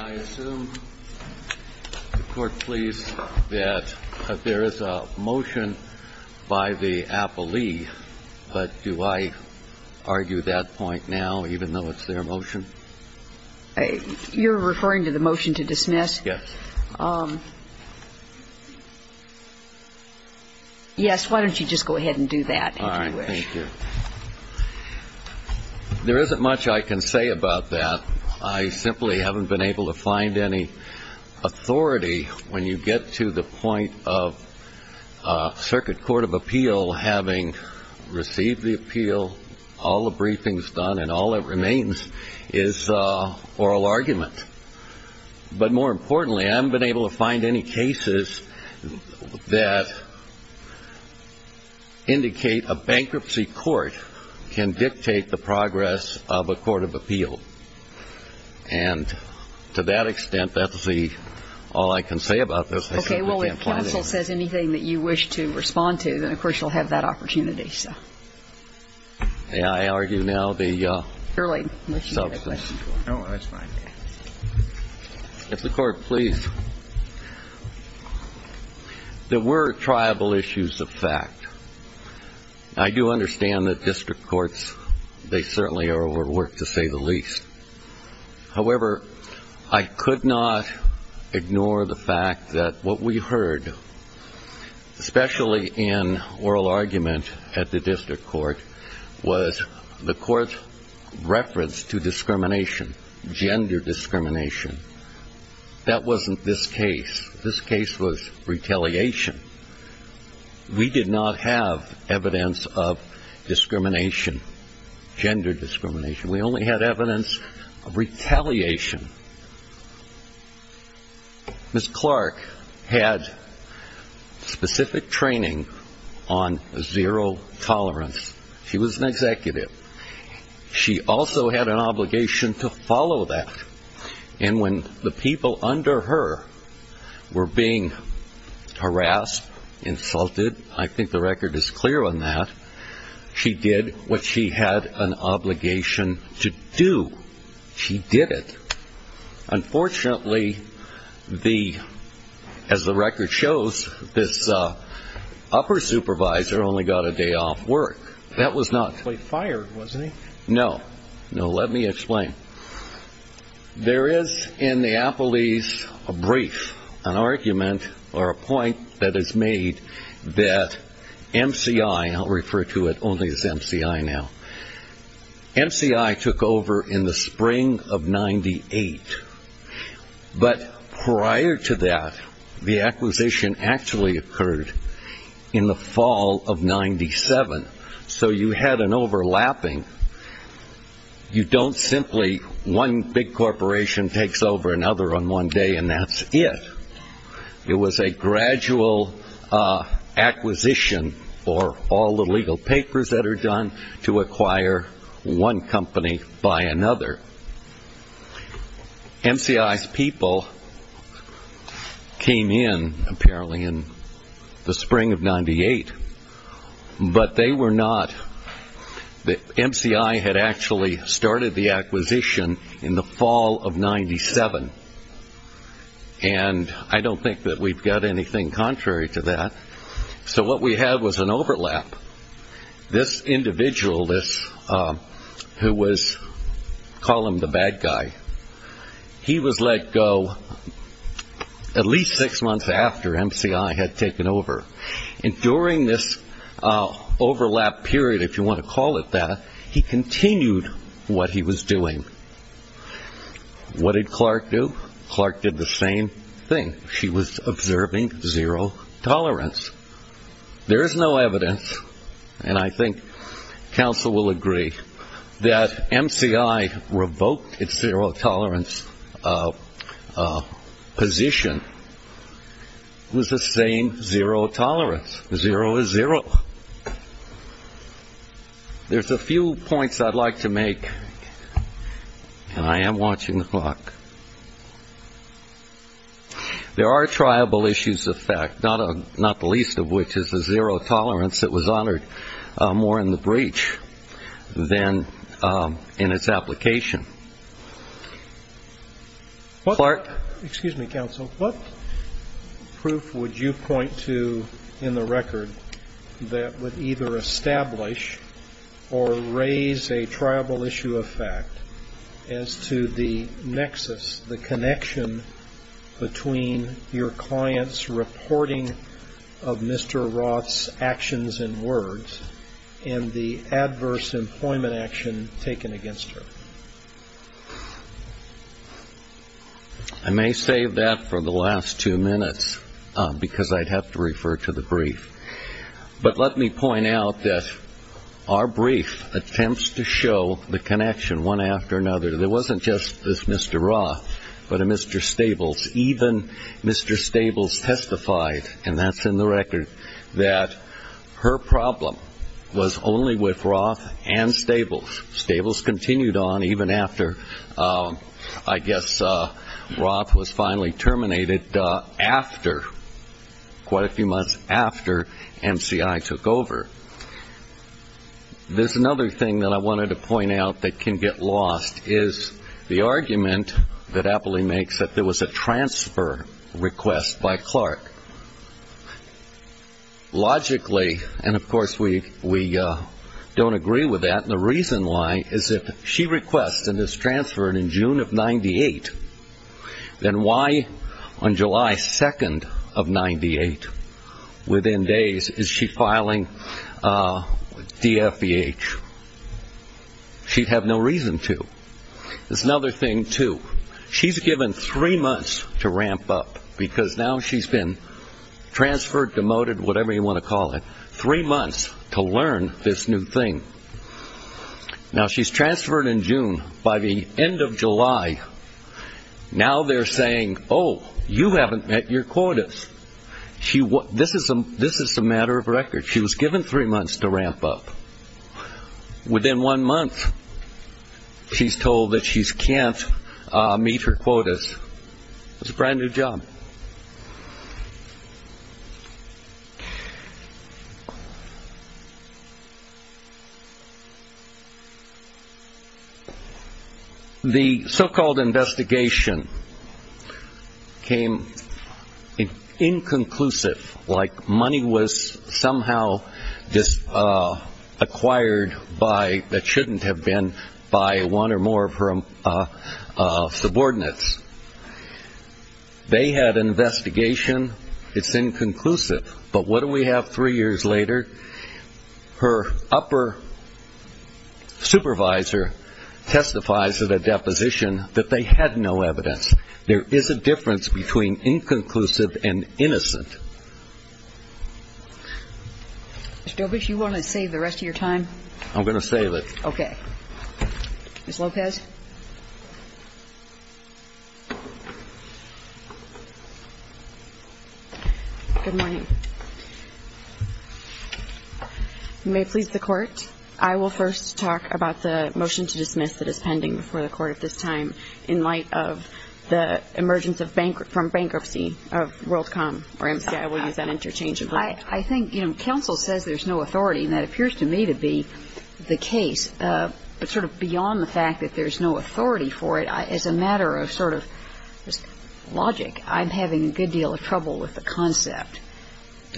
I assume, the Court, please, that there is a motion by the appellee, but do I argue that point now, even though it's their motion? You're referring to the motion to dismiss? Yes. Yes, why don't you just go ahead and do that, if you wish. All right, thank you. There isn't much I can say about that. I simply haven't been able to find any authority when you get to the point of Circuit Court of Appeal having received the appeal, all the briefings done, and all that remains is oral argument. But more importantly, I haven't been able to find any cases that indicate a bankruptcy court can dictate the progress of a court of appeal. And to that extent, that's all I can say about this. Okay, well, if counsel says anything that you wish to respond to, then, of course, you'll have that opportunity. May I argue now the substance? Oh, that's fine. If the Court, please. There were triable issues of fact. I do understand that district courts, they certainly are overworked, to say the least. However, I could not ignore the fact that what we heard, especially in oral argument at the district court, was the court's reference to discrimination, gender discrimination. That wasn't this case. This case was retaliation. We did not have evidence of discrimination, gender discrimination. We only had evidence of retaliation. Ms. Clark had specific training on zero tolerance. She was an executive. She also had an obligation to follow that. And when the people under her were being harassed, insulted, I think the record is clear on that, she did what she had an obligation to do. She did it. Unfortunately, as the record shows, this upper supervisor only got a day off work. He was fired, wasn't he? No. No, let me explain. There is in the appellees a brief, an argument or a point that is made that MCI, I'll refer to it only as MCI now, MCI took over in the spring of 98. But prior to that, the acquisition actually occurred in the fall of 97. So you had an overlapping. You don't simply, one big corporation takes over another on one day and that's it. It was a gradual acquisition for all the legal papers that are done to acquire one company by another. MCI's people came in apparently in the spring of 98. But they were not, MCI had actually started the acquisition in the fall of 97. And I don't think that we've got anything contrary to that. So what we had was an overlap. This individual, who was, call him the bad guy, he was let go at least six months after MCI had taken over. And during this overlap period, if you want to call it that, he continued what he was doing. What did Clark do? Clark did the same thing. She was observing zero tolerance. There is no evidence, and I think counsel will agree, that MCI revoked its zero tolerance position. It was the same zero tolerance. Zero is zero. There's a few points I'd like to make, and I am watching the clock. There are triable issues of fact, not the least of which is the zero tolerance that was honored more in the breach than in its application. Clark? Excuse me, counsel. What proof would you point to in the record that would either establish or raise a triable issue of fact as to the nexus, the connection between your client's reporting of Mr. Roth's actions and words and the adverse employment action taken against her? I may save that for the last two minutes because I'd have to refer to the brief. But let me point out that our brief attempts to show the connection one after another. There wasn't just this Mr. Roth, but a Mr. Stables. Even Mr. Stables testified, and that's in the record, that her problem was only with Roth and Stables. Stables continued on even after, I guess, Roth was finally terminated after, quite a few months after MCI took over. There's another thing that I wanted to point out that can get lost is the argument that Apley makes that there was a transfer request by Clark. Logically, and of course we don't agree with that, and the reason why is if she requests and is transferred in June of 98, then why on July 2nd of 98, within days, is she filing DFVH? She'd have no reason to. There's another thing, too. She's given three months to ramp up because now she's been transferred, demoted, whatever you want to call it. Three months to learn this new thing. Now she's transferred in June. By the end of July, now they're saying, oh, you haven't met your quotas. This is a matter of record. She was given three months to ramp up. Within one month, she's told that she can't meet her quotas. It's a brand new job. The so-called investigation came inconclusive, like money was somehow acquired that shouldn't have been by one or more of her subordinates. They had an investigation. It's inconclusive. But what do we have three years later? Her upper supervisor testifies at a deposition that they had no evidence. There is a difference between inconclusive and innocent. Ms. Dobrisch, you want to save the rest of your time? I'm going to save it. Okay. Ms. Lopez? Good morning. You may please the Court. I will first talk about the motion to dismiss that is pending before the Court at this time in light of the emergence from bankruptcy of WorldCom or MCI. We'll use that interchangeably. I think, you know, counsel says there's no authority, and that appears to me to be the case. But sort of beyond the fact that there's no authority for it, as a matter of sort of logic, I'm having a good deal of trouble with the concept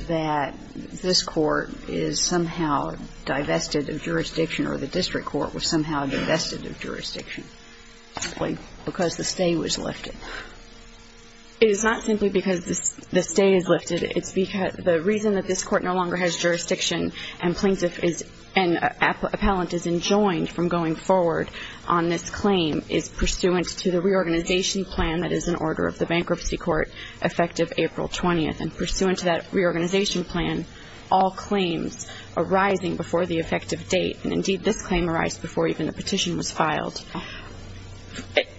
that this Court is somehow divested of jurisdiction or the district court was somehow divested of jurisdiction simply because the stay was lifted. It is not simply because the stay is lifted. It's because the reason that this Court no longer has jurisdiction and plaintiff and appellant is enjoined from going forward on this claim is pursuant to the reorganization plan that is in order of the bankruptcy court effective April 20th. And pursuant to that reorganization plan, all claims arising before the effective date, and indeed this claim arised before even the petition was filed.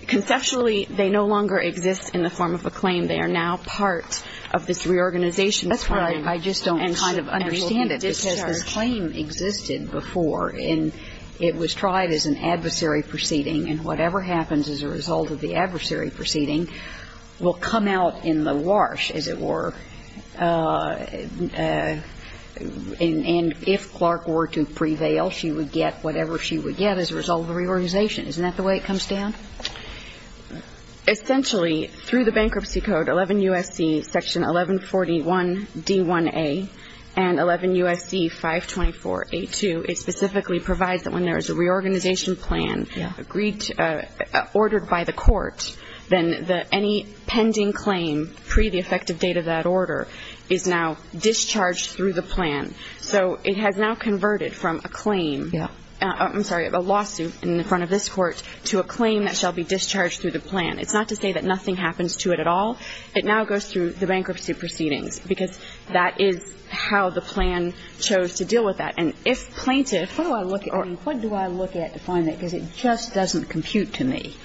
Conceptually, they no longer exist in the form of a claim. They are now part of this reorganization plan. That's right. I just don't kind of understand it because this claim existed before, and it was tried as an adversary proceeding, and whatever happens as a result of the adversary proceeding will come out in the wash, as it were. And if Clark were to prevail, she would get whatever she would get as a result of the reorganization. Isn't that the way it comes down? Essentially, through the bankruptcy code, 11 U.S.C. section 1141 D1A and 11 U.S.C. 524 A2, it specifically provides that when there is a reorganization plan ordered by the court, then any pending claim pre the effective date of that order is now discharged through the plan. So it has now converted from a claim, I'm sorry, a lawsuit in front of this court, to a claim that shall be discharged through the plan. It's not to say that nothing happens to it at all. It now goes through the bankruptcy proceedings because that is how the plan chose to deal with that. And if plaintiff or what do I look at to find that because it just doesn't compute to me.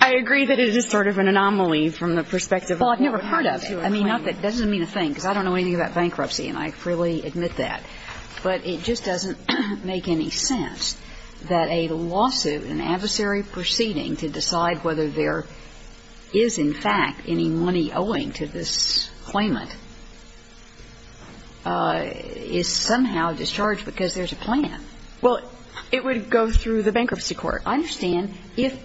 I agree that it is sort of an anomaly from the perspective. Well, I've never heard of it. I mean, that doesn't mean a thing because I don't know anything about bankruptcy and I freely admit that. But it just doesn't make any sense that a lawsuit, an adversary proceeding to decide whether there is in fact any money owing to this claimant is somehow discharged because there's a plan. Well, it would go through the bankruptcy court. I understand if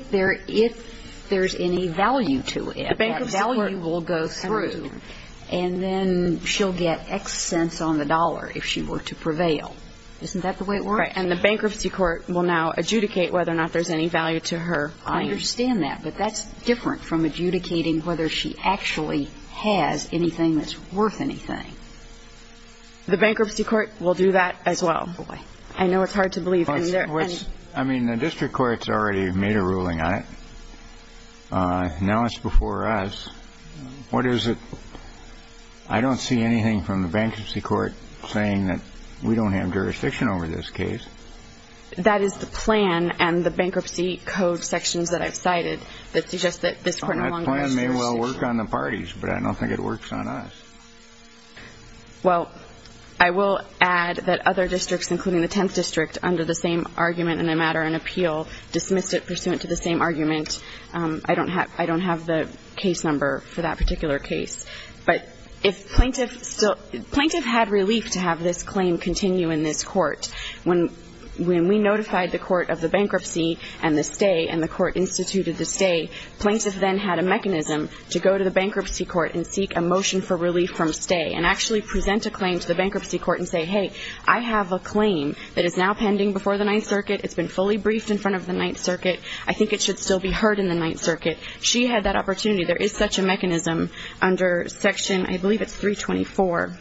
there's any value to it. That value will go through and then she'll get X cents on the dollar if she were to prevail. Isn't that the way it works? Right. And the bankruptcy court will now adjudicate whether or not there's any value to her. I understand that. But that's different from adjudicating whether she actually has anything that's worth anything. The bankruptcy court will do that as well. Boy. I know it's hard to believe. I mean, the district court's already made a ruling on it. Now it's before us. What is it? I don't see anything from the bankruptcy court saying that we don't have jurisdiction over this case. That is the plan and the bankruptcy code sections that I've cited that suggest that this court no longer has jurisdiction. That plan may well work on the parties, but I don't think it works on us. Well, I will add that other districts, including the 10th District, under the same argument in a matter in appeal, dismissed it pursuant to the same argument. I don't have the case number for that particular case. But if plaintiff had relief to have this claim continue in this court, when we notified the court of the bankruptcy and the stay and the court instituted the stay, plaintiff then had a mechanism to go to the bankruptcy court and seek a motion for relief from stay and actually present a claim to the bankruptcy court and say, hey, I have a claim that is now pending before the Ninth Circuit. It's been fully briefed in front of the Ninth Circuit. I think it should still be heard in the Ninth Circuit. She had that opportunity. There is such a mechanism under section, I believe it's 324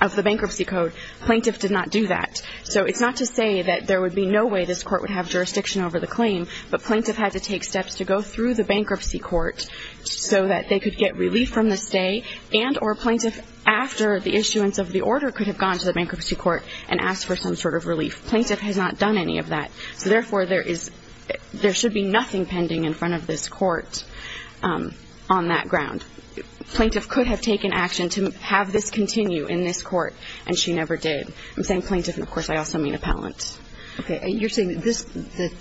of the bankruptcy code. Plaintiff did not do that. So it's not to say that there would be no way this court would have jurisdiction over the claim, but plaintiff had to take steps to go through the bankruptcy court so that they could get relief from the stay and or plaintiff, after the issuance of the order could have gone to the bankruptcy court and asked for some sort of relief. Plaintiff has not done any of that. So therefore, there is – there should be nothing pending in front of this court on that ground. Plaintiff could have taken action to have this continue in this court, and she never did. I'm saying plaintiff, and, of course, I also mean appellant. Okay. You're saying this – that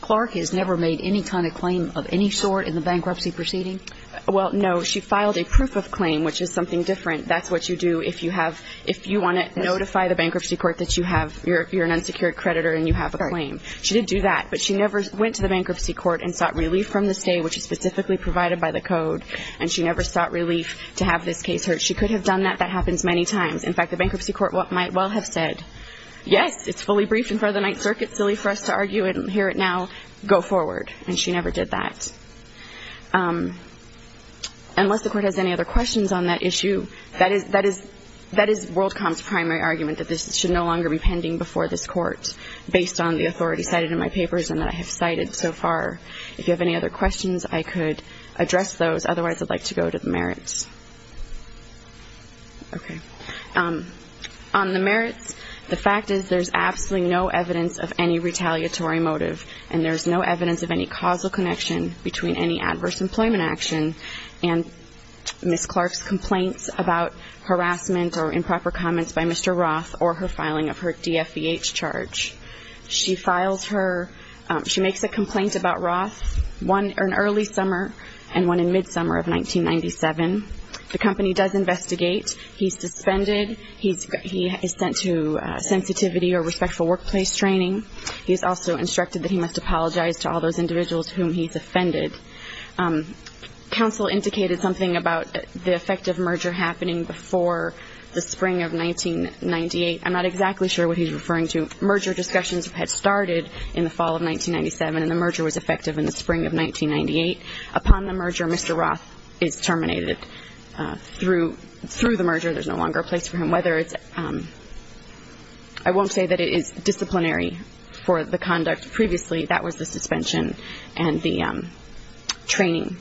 Clark has never made any kind of claim of any sort in the bankruptcy proceeding? Well, no. She filed a proof of claim, which is something different. That's what you do if you have – if you want to notify the bankruptcy court that you have – you're an unsecured creditor and you have a claim. She did do that, but she never went to the bankruptcy court and sought relief from the stay, which is specifically provided by the code, and she never sought relief to have this case heard. She could have done that. That happens many times. In fact, the bankruptcy court might well have said, yes, it's fully briefed in front of the Ninth Circuit, silly for us to argue it and hear it now. Go forward. And she never did that. Unless the court has any other questions on that issue, that is WorldCom's primary argument, that this should no longer be pending before this court based on the authority cited in my papers and that I have cited so far. If you have any other questions, I could address those. Otherwise, I'd like to go to the merits. Okay. On the merits, the fact is there's absolutely no evidence of any retaliatory motive, and there's no evidence of any causal connection between any adverse employment action and Ms. Clark's complaints about harassment or improper comments by Mr. Roth or her filing of her DFVH charge. She files her, she makes a complaint about Roth, one in early summer and one in mid-summer of 1997. The company does investigate. He's suspended. He is sent to sensitivity or respectful workplace training. He is also instructed that he must apologize to all those individuals whom he's offended. Counsel indicated something about the effective merger happening before the spring of 1998. I'm not exactly sure what he's referring to. Merger discussions had started in the fall of 1997, and the merger was effective in the spring of 1998. Upon the merger, Mr. Roth is terminated. Through the merger, there's no longer a place for him. I won't say that it is disciplinary for the conduct. Previously, that was the suspension and the training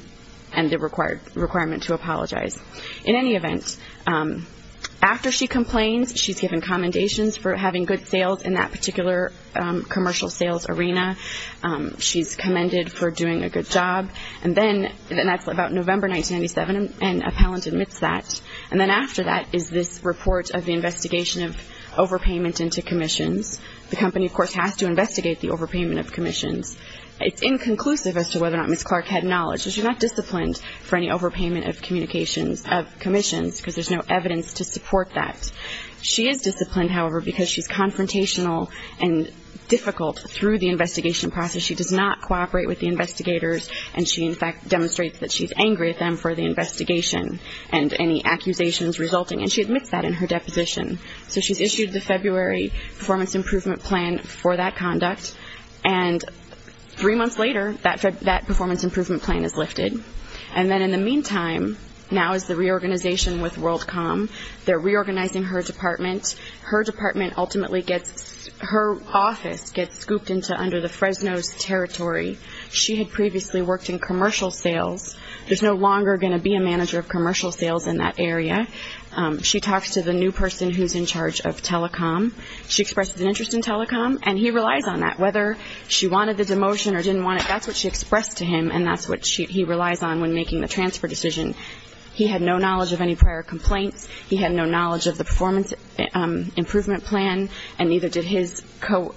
and the requirement to apologize. In any event, after she complains, she's given commendations for having good sales in that particular commercial sales arena. She's commended for doing a good job. And then, and that's about November 1997, an appellant admits that. And then after that is this report of the investigation of overpayment into commissions. The company, of course, has to investigate the overpayment of commissions. It's inconclusive as to whether or not Ms. Clark had knowledge. She's not disciplined for any overpayment of communications, of commissions, because there's no evidence to support that. She is disciplined, however, because she's confrontational and difficult through the investigation process. She does not cooperate with the investigators, and she, in fact, demonstrates that she's angry at them for the investigation and any accusations resulting, and she admits that in her deposition. So she's issued the February performance improvement plan for that conduct. And three months later, that performance improvement plan is lifted. And then in the meantime, now is the reorganization with WorldCom. They're reorganizing her department. Her department ultimately gets, her office gets scooped into under the Fresno's territory. She had previously worked in commercial sales. There's no longer going to be a manager of commercial sales in that area. She talks to the new person who's in charge of telecom. She expresses an interest in telecom, and he relies on that. Whether she wanted the demotion or didn't want it, that's what she expressed to him, and that's what he relies on when making the transfer decision. He had no knowledge of any prior complaints. He had no knowledge of the performance improvement plan, and neither did his co-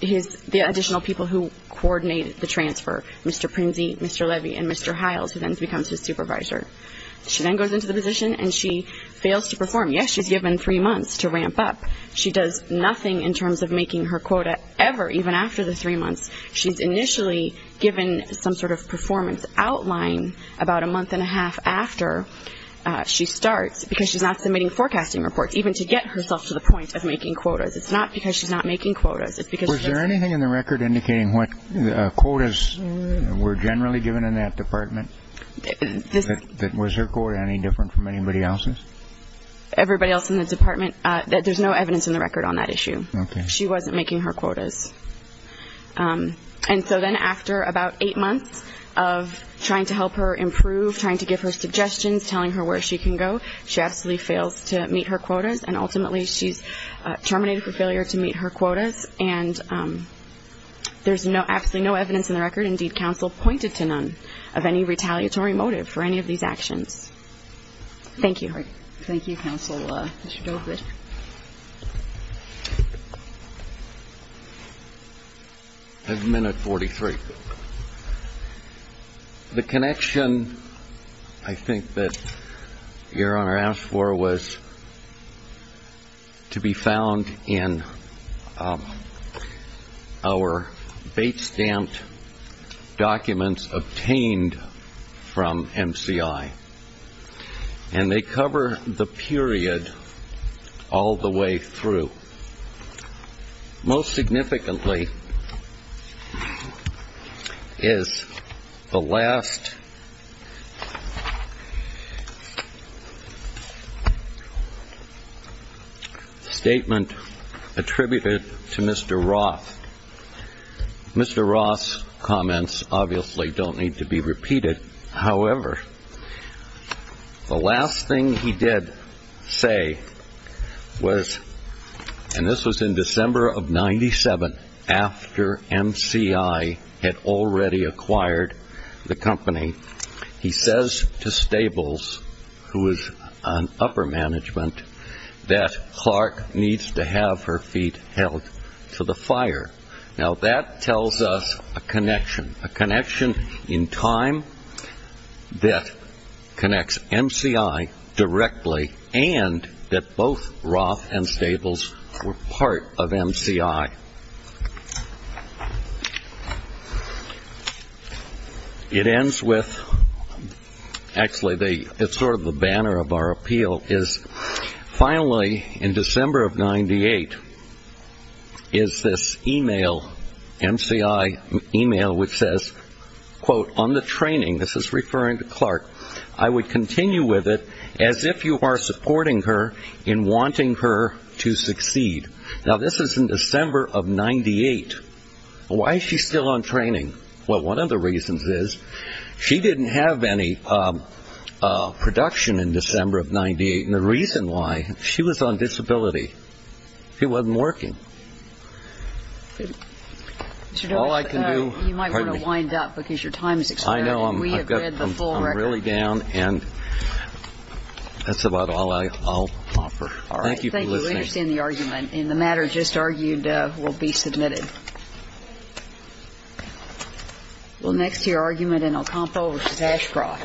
his additional people who coordinated the transfer, Mr. Prinze, Mr. Levy, and Mr. Hiles, who then becomes his supervisor. She then goes into the position, and she fails to perform. Yes, she's given three months to ramp up. She does nothing in terms of making her quota ever, even after the three months. She's initially given some sort of performance outline about a month and a half after she starts because she's not submitting forecasting reports, even to get herself to the point of making quotas. It's not because she's not making quotas. Was there anything in the record indicating what quotas were generally given in that department? Was her quota any different from anybody else's? Everybody else in the department, there's no evidence in the record on that issue. Okay. She wasn't making her quotas. And so then after about eight months of trying to help her improve, trying to give her suggestions, telling her where she can go, she absolutely fails to meet her quotas, and ultimately she's terminated for failure to meet her quotas, and there's absolutely no evidence in the record. Indeed, counsel pointed to none of any retaliatory motive for any of these actions. Thank you. Thank you, counsel. Mr. Dogwood. At minute 43. The connection I think that Your Honor asked for was to be found in our bait stamp documents obtained from MCI, and they cover the period all the way through. Most significantly is the last statement attributed to Mr. Roth. Mr. Roth's comments obviously don't need to be repeated. However, the last thing he did say was, and this was in December of 97, after MCI had already acquired the company, he says to Stables, who was on upper management, that Clark needs to have her feet held to the fire. Now that tells us a connection, a connection in time that connects MCI directly and that both Roth and Stables were part of MCI. It ends with, actually it's sort of the banner of our appeal, is finally in December of 98 is this email, MCI email, which says, quote, on the training, this is referring to Clark, I would continue with it as if you are supporting her in wanting her to succeed. Now this is in December of 98. Why is she still on training? Well, one of the reasons is she didn't have any production in December of 98, and the reason why, she was on disability. She wasn't working. All I can do ‑‑ You might want to wind up because your time is expiring. I know. We have read the full record. I'm really down, and that's about all I'll offer. All right. Thank you for listening. We understand the argument, and the matter just argued will be submitted. We'll next to your argument in El Campo versus Ashcroft.